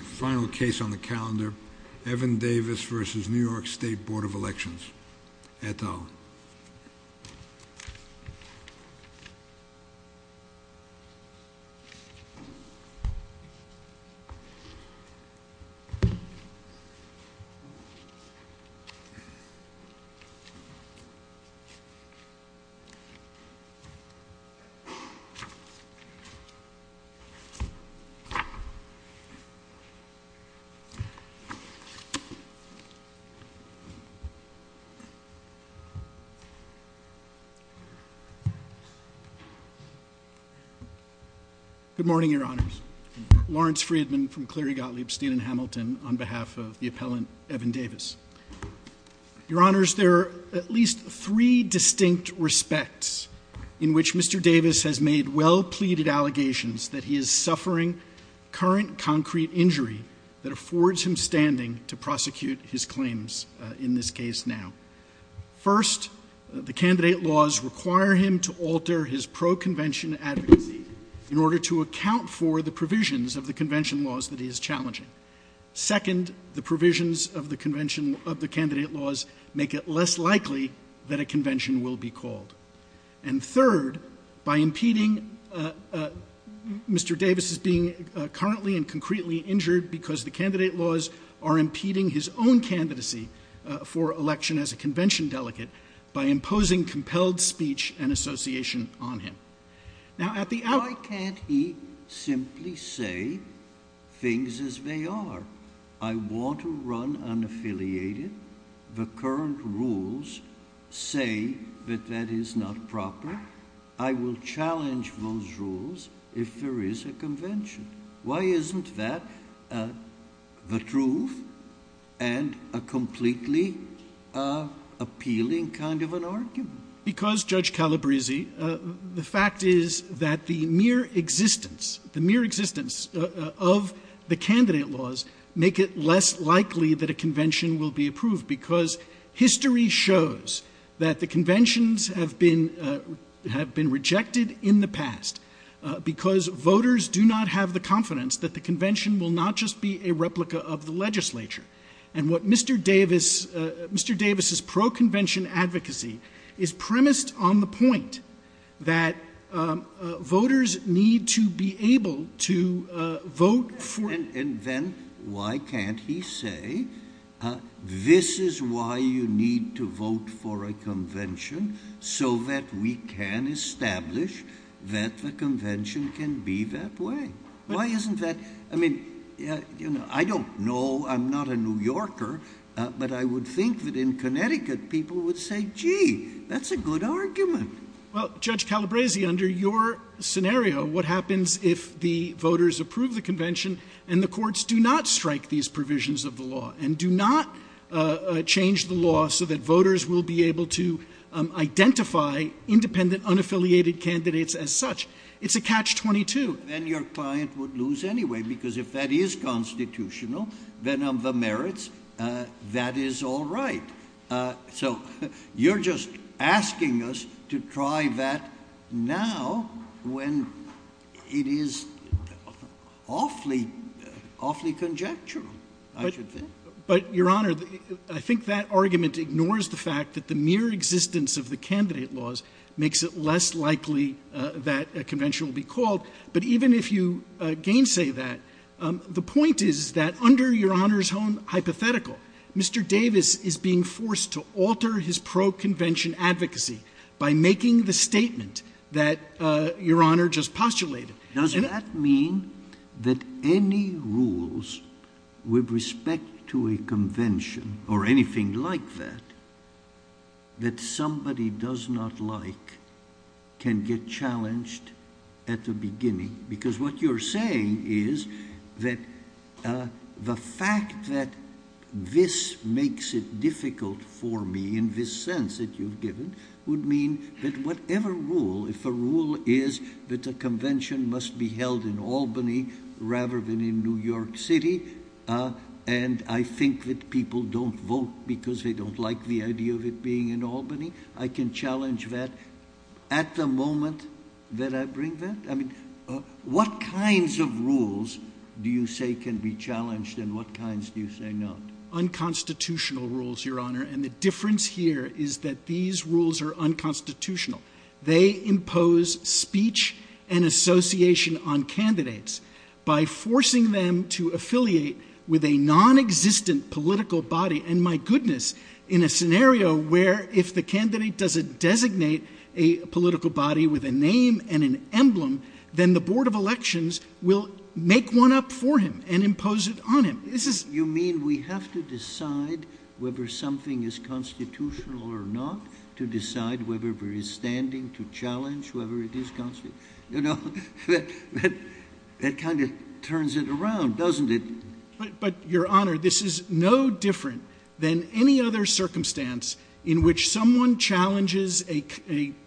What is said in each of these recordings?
final case on the calendar, Evan Davis v. New York State Board of Elections, et al. Good morning, your honors. Lawrence Friedman from Cleary Gottlieb State and Hamilton on behalf of the appellant, Evan Davis. Your honors, there are at least three distinct respects in which Mr. Davis has made well-pleaded allegations that he is suffering current concrete injury that affords him standing to prosecute his claims in this case now. First, the candidate laws require him to alter his pro-convention advocacy in order to account for the provisions of the convention laws that he is challenging. Second, the provisions of the candidate laws make it less likely that a convention will be called. And third, by impeding Mr. Davis's being currently and concretely injured because the candidate laws are impeding his own candidacy for election as a convention delegate by imposing compelled speech and association on him. Now at the out— Why can't he simply say things as they are? I want to run unaffiliated. The isn't that the truth and a completely appealing kind of an argument? Because Judge Calabresi, the fact is that the mere existence, the mere existence of the candidate laws make it less likely that a convention will be approved because history shows that the conventions have been rejected in the past because voters do not have the confidence that the convention will not just be a replica of the legislature. And what Mr. Davis, Mr. Davis's pro-convention advocacy is premised on the point that voters need to be able to vote for— And then why can't he say, uh, this is why you need to vote for a convention so that we can establish that the convention can be that way. Why isn't that? I mean, uh, you know, I don't know. I'm not a New Yorker, but I would think that in Connecticut people would say, gee, that's a good argument. Well, Judge Calabresi, under your scenario, what happens if the voters approve the convention and the courts do not strike these provisions of the law and do not change the law so that voters will be able to identify independent, unaffiliated candidates as such? It's a catch-22. Then your client would lose anyway, because if that is constitutional, then of the merits, that is all right. So you're just asking us to try that now when it is awfully, awfully conjectural, I should think. But, Your Honor, I think that argument ignores the fact that the mere existence of the candidate laws makes it less likely that a convention will be called. But even if you gainsay that, the point is that under Your Honor's hypothetical, Mr. Davis is being forced to alter his pro- convention advocacy by making the statement that Your Honor just postulated. Does that mean that any rules with respect to a convention, or anything like that, that somebody does not like can get challenged at the beginning? Because what you're saying is that the fact that this makes it difficult for me, in this sense that you've given, would mean that whatever rule, if a rule is that a convention must be held in Albany rather than in New York City, and I think that people don't vote because they don't like the idea of it being in Albany, I can challenge that at the moment that I bring that? I mean, what kinds of rules do you say can be challenged and what kinds do you say not? Unconstitutional rules, Your Honor, and the difference here is that these rules are unconstitutional. They impose speech and association on candidates by forcing them to affiliate with a non-existent political body, and my goodness, in a scenario where if the elections will make one up for him and impose it on him. You mean we have to decide whether something is constitutional or not, to decide whether it is standing to challenge whoever it is? That kind of turns it around, doesn't it? But Your Honor, this is no different than any other circumstance in which someone challenges a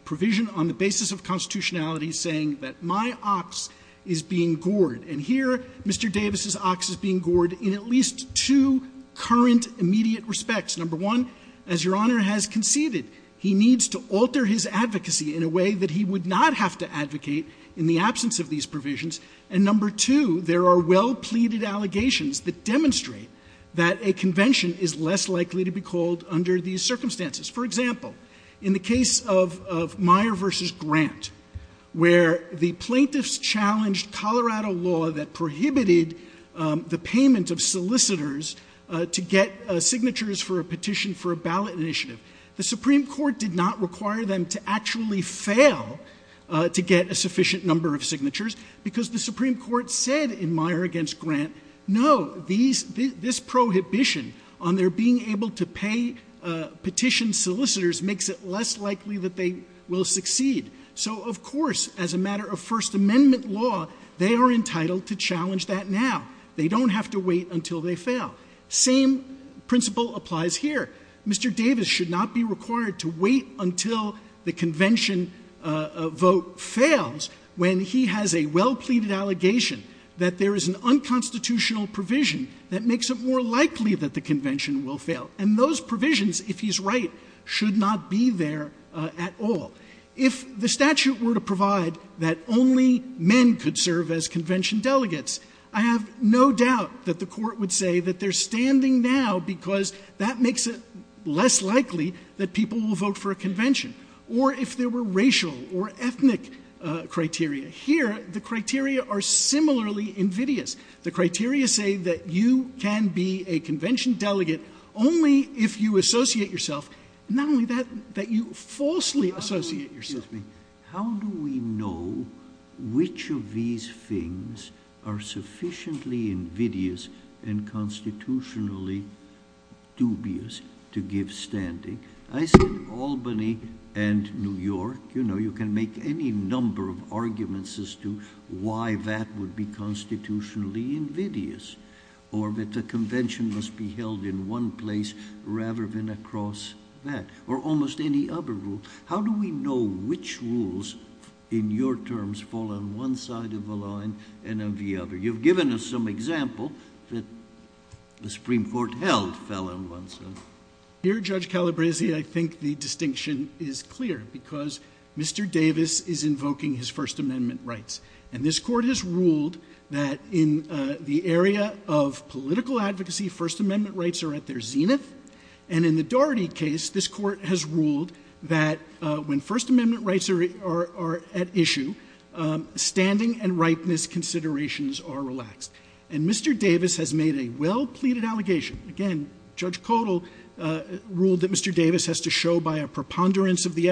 provision on the basis of constitutionality saying that my ox is being gored, and here Mr. Davis' ox is being gored in at least two current immediate respects. Number one, as Your Honor has conceded, he needs to alter his advocacy in a way that he would not have to advocate in the absence of these provisions, and number two, there are well-pleaded allegations that demonstrate that a convention is less likely to be called under these conditions. In the case of Meyer v. Grant, where the plaintiffs challenged Colorado law that prohibited the payment of solicitors to get signatures for a petition for a ballot initiative, the Supreme Court did not require them to actually fail to get a sufficient number of signatures because the Supreme Court said in Meyer v. Grant, no, this prohibition on their being able to pay petition solicitors makes it less likely that they will succeed. So, of course, as a matter of First Amendment law, they are entitled to challenge that now. They don't have to wait until they fail. Same principle applies here. Mr. Davis should not be required to wait until the convention vote fails when he has a well-pleaded allegation that there is an And those provisions, if he's right, should not be there at all. If the statute were to provide that only men could serve as convention delegates, I have no doubt that the court would say that they're standing now because that makes it less likely that people will vote for a convention, or if there were racial or ethnic criteria. Here, the criteria are similarly invidious. The criteria say that you can be a convention delegate only if you associate yourself, not only that, that you falsely associate yourself. How do we know which of these things are sufficiently invidious and constitutionally dubious to give standing? I say Albany and New York. You know, you can make any number of arguments as to why that would be constitutionally invidious, or that the convention must be held in one place rather than across that, or almost any other rule. How do we know which rules in your terms fall on one side of the line and on the other? You've given us some example that the Supreme Court held fell on one side. Here, Judge Calabresi, I think the distinction is clear because Mr. Davis is standing. This Court has ruled that in the area of political advocacy, First Amendment rights are at their zenith, and in the Daugherty case, this Court has ruled that when First Amendment rights are at issue, standing and ripeness considerations are relaxed. And Mr. Davis has made a well-pleaded allegation. Again, Judge Codall ruled that Mr. Davis has to show by a preponderance of the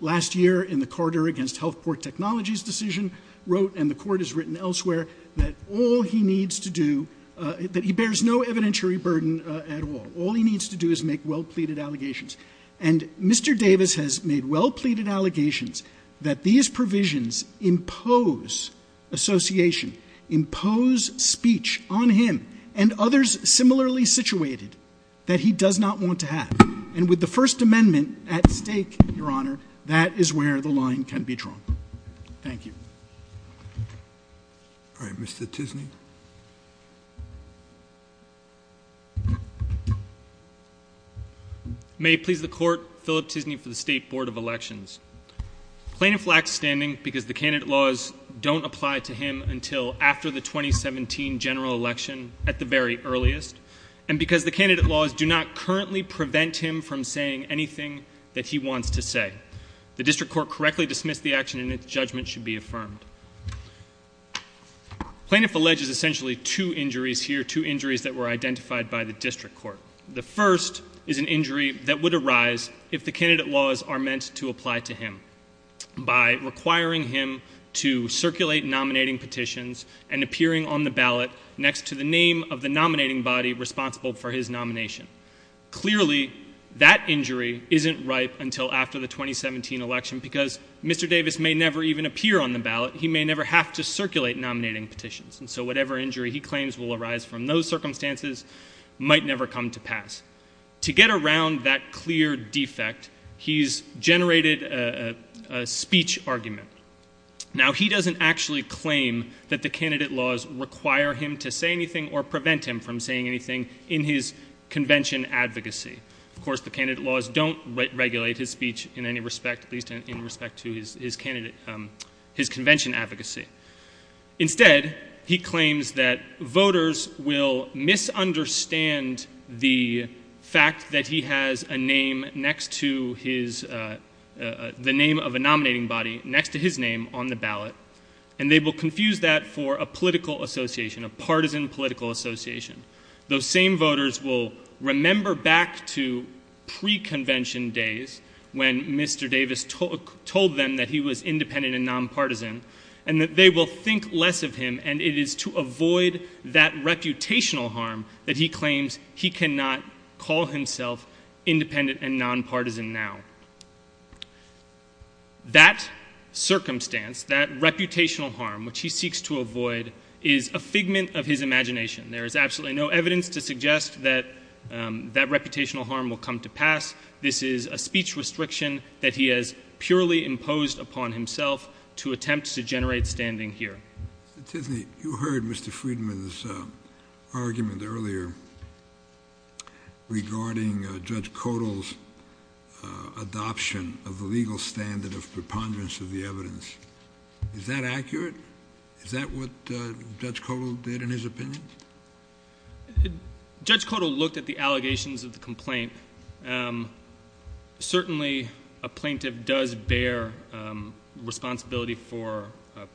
last year in the Carter against Health Port Technologies decision, wrote, and the Court has written elsewhere, that all he needs to do, that he bears no evidentiary burden at all. All he needs to do is make well-pleaded allegations. And Mr. Davis has made well-pleaded allegations that these provisions impose association, impose speech on him and others similarly situated that he does not want to have. And with the First Amendment at stake, Your Honor, that is where the line can be drawn. Thank you. All right, Mr. Tisney. May it please the Court, Philip Tisney for the State Board of Elections. Plaintiff lacks standing because the candidate laws don't apply to him until after the 2017 general election at the very earliest, and because the candidate laws do not currently prevent him from saying anything that he wants to say. The District Court correctly dismissed the action and its judgment should be affirmed. Plaintiff alleges essentially two injuries here, two injuries that were identified by the District Court. The first is an injury that would arise if the candidate laws are meant to apply to him by requiring him to circulate nominating petitions and appearing on the ballot next to the name of the nominating body responsible for his nomination. Clearly, that injury isn't ripe until after the 2017 election because Mr. Davis may never even appear on the ballot. He may never have to circulate nominating petitions. And so whatever injury he claims will arise from those circumstances might never come to pass. To get around that clear defect, he's generated a speech argument. Now, he doesn't actually claim that the candidate laws require him to say anything or prevent him from saying anything in his convention advocacy. Of course, the candidate laws don't regulate his speech in any respect, at least in respect to his convention advocacy. Instead, he claims that voters will misunderstand the fact that he has a name next to his, the name of a nominating body next to his name on the ballot, and they will confuse that for a political association, a partisan political association. Those same voters will remember back to pre-convention days when Mr. Davis told them that he was independent and nonpartisan and that they will think less of him and it is to avoid that reputational harm that he claims he cannot call himself independent and nonpartisan now. That circumstance, that reputational harm, which he seeks to avoid, is a figment of his imagination. There is absolutely no evidence to suggest that that reputational harm will come to pass. This is a speech restriction that he has purely imposed upon himself to attempt to generate standing here. Tiffany, you heard Mr. Friedman's argument earlier regarding Judge Codall's adoption of the legal standard of preponderance of the evidence. Is that accurate? Is that what Judge Codall did in his opinion? Judge Codall looked at the allegations of the complaint. Certainly, a plaintiff does bear responsibility for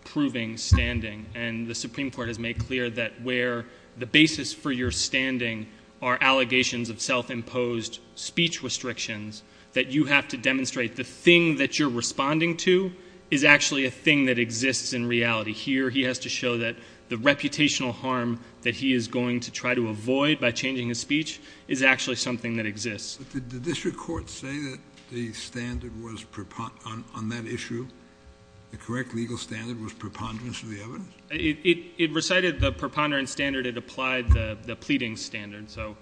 proving standing and the Supreme Court has made clear that where the basis for your standing are allegations of self-imposed speech restrictions that you have to demonstrate the thing that you're responding to is actually a thing that exists in reality. Here, he has to show that the reputational harm that he is going to try to avoid by changing his speech is actually something that exists. But did the district court say that the standard was on that issue, the correct legal standard was preponderance of the evidence? It recited the preponderance standard. It applied the pleading standard. So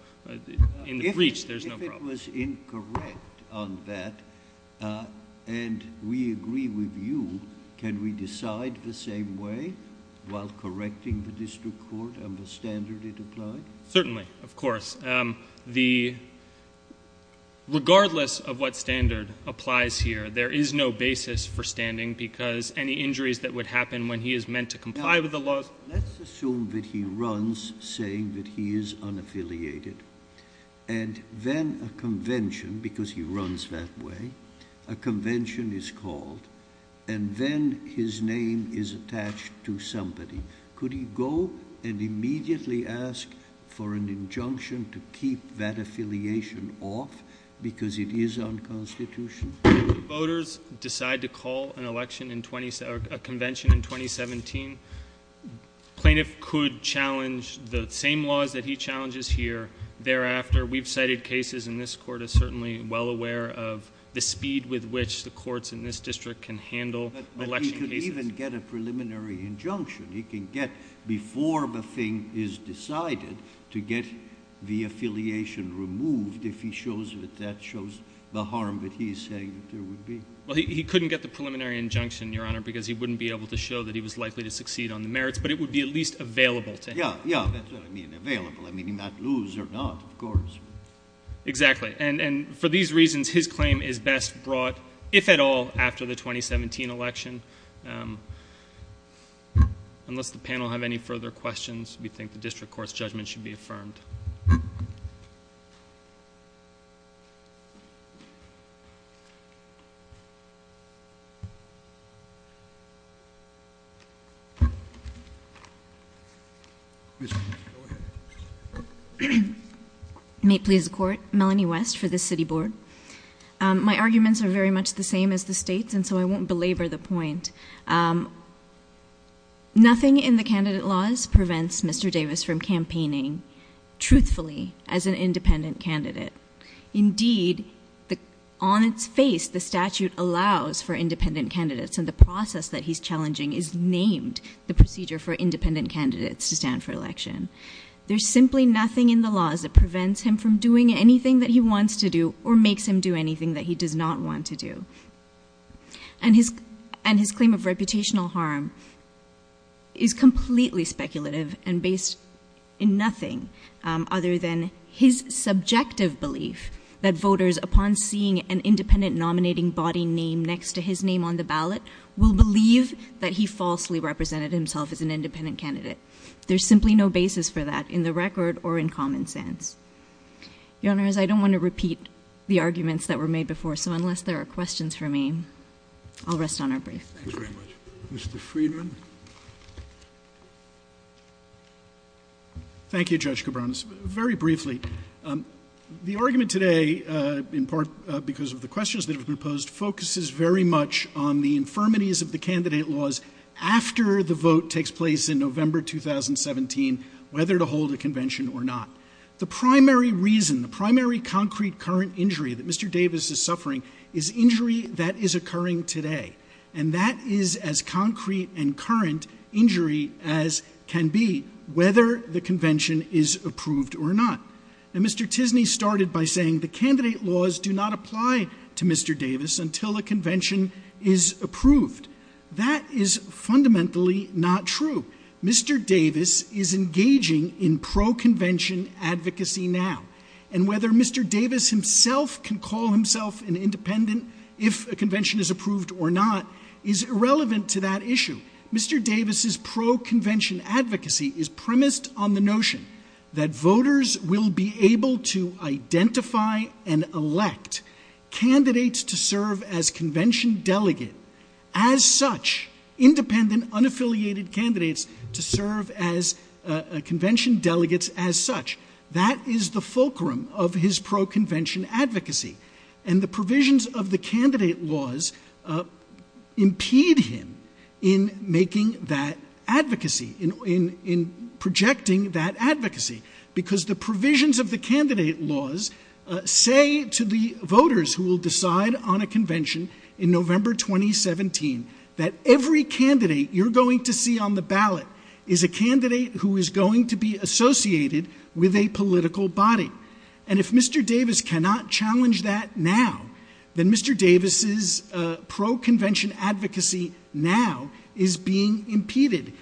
in the breach, there's no problem. If it was incorrect on that and we agree with you, can we decide the same way while correcting the district court and the standard it applied? Certainly, of course. Regardless of what standard applies here, there is no basis for standing because any injuries that would happen when he is meant to comply with the laws... Let's assume that he runs saying that he is unaffiliated and then a convention, because he runs that way, a convention is called and then his name is attached to somebody. Could he go and immediately ask for an injunction to keep that affiliation off because it is unconstitutional? If voters decide to call a convention in 2017, plaintiff could challenge the same laws that he challenges here. Thereafter, we've cited cases and this court is certainly well aware of the speed with which the courts in this district can handle election cases. But he could even get a preliminary injunction. He can get, before the thing is decided, to get the affiliation removed if he shows that that shows the harm that he is saying that there would be. Well, he couldn't get the preliminary injunction, Your Honor, because he wouldn't be able to show that he was likely to succeed on the merits, but it would be at least available to him. Yeah, yeah, that's what I mean, available. I mean, he might lose or not, of course. Exactly. And for these reasons, his claim is best brought, if at all, after the 2017 election. Unless the panel have any further questions, we think the district court's judgment should be affirmed. Ms. Williams, go ahead. May it please the court, Melanie West for the City Board. My arguments are very much the same as the state's, and so I won't belabor the point. Um, nothing in the candidate laws prevents Mr. Davis from campaigning truthfully as an independent candidate. Indeed, on its face, the statute allows for independent candidates, and the process that he's challenging is named the procedure for independent candidates to stand for election. There's simply nothing in the laws that prevents him from doing anything that he believes is wrong. His claim of reputational harm is completely speculative and based in nothing other than his subjective belief that voters, upon seeing an independent nominating body name next to his name on the ballot, will believe that he falsely represented himself as an independent candidate. There's simply no basis for that in the record or in common sense. Your Honor, as I don't want to repeat the arguments that were made before, unless there are questions for me, I'll rest on our brief. Thank you very much. Mr. Friedman. Thank you, Judge Cabranes. Very briefly, the argument today, in part because of the questions that have been posed, focuses very much on the infirmities of the candidate laws after the vote takes place in November 2017, whether to hold a convention or not. The primary reason, the primary concrete, current injury that Mr. Davis is suffering is injury that is occurring today. And that is as concrete and current injury as can be, whether the convention is approved or not. And Mr. Tisney started by saying the candidate laws do not apply to Mr. Davis until a convention is approved. That is fundamentally not true. Mr. Davis is engaging in pro-convention advocacy now. And whether Mr. Davis himself can call himself an independent, if a convention is approved or not, is irrelevant to that issue. Mr. Davis' pro-convention advocacy is premised on the notion that voters will be able to identify and elect candidates to serve as convention delegate, as such, independent, unaffiliated candidates to serve as convention delegates as such. That is the fulcrum of his pro-convention advocacy. And the provisions of the candidate laws impede him in making that advocacy, in projecting that advocacy, because the provisions of the candidate laws say to the voters who will decide on a convention in November 2017 that every political body. And if Mr. Davis cannot challenge that now, then Mr. Davis' pro-convention advocacy now is being impeded.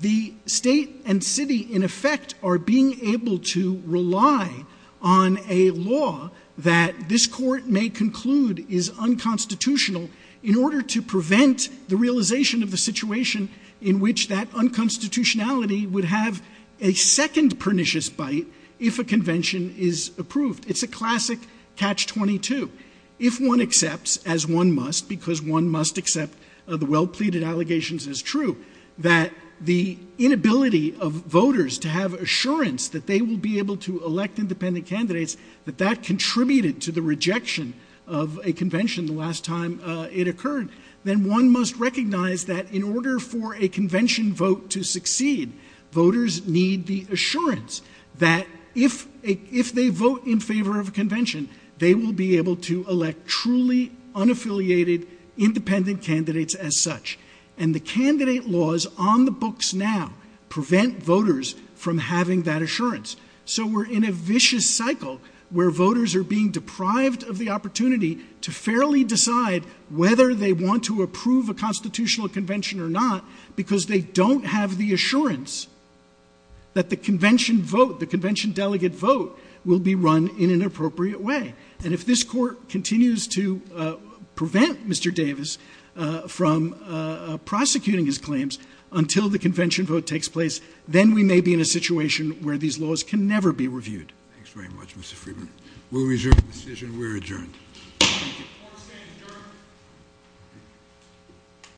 The state and city, in effect, are being able to rely on a law that this court may conclude is unconstitutional in order to prevent the realization of the situation in which that unconstitutionality would have a second pernicious bite if a convention is approved. It's a classic catch-22. If one accepts, as one must, because one must accept the well-pleaded allegations as true, that the inability of voters to have assurance that they will be able to elect independent candidates, that that contributed to the rejection of a convention the last time it occurred, then one must recognize that in order for a convention vote to succeed, voters need the assurance that if they vote in favor of a convention, they will be able to elect truly unaffiliated, independent candidates as such. And the candidate laws on the books now prevent voters from having that assurance. So we're in a vicious cycle where voters are being whether they want to approve a constitutional convention or not because they don't have the assurance that the convention vote, the convention delegate vote, will be run in an appropriate way. And if this court continues to prevent Mr. Davis from prosecuting his claims until the convention vote takes place, then we may be in a situation where these laws can never be reviewed. Thanks very much, Mr. Freeman. We'll adjourn the decision. We're adjourned.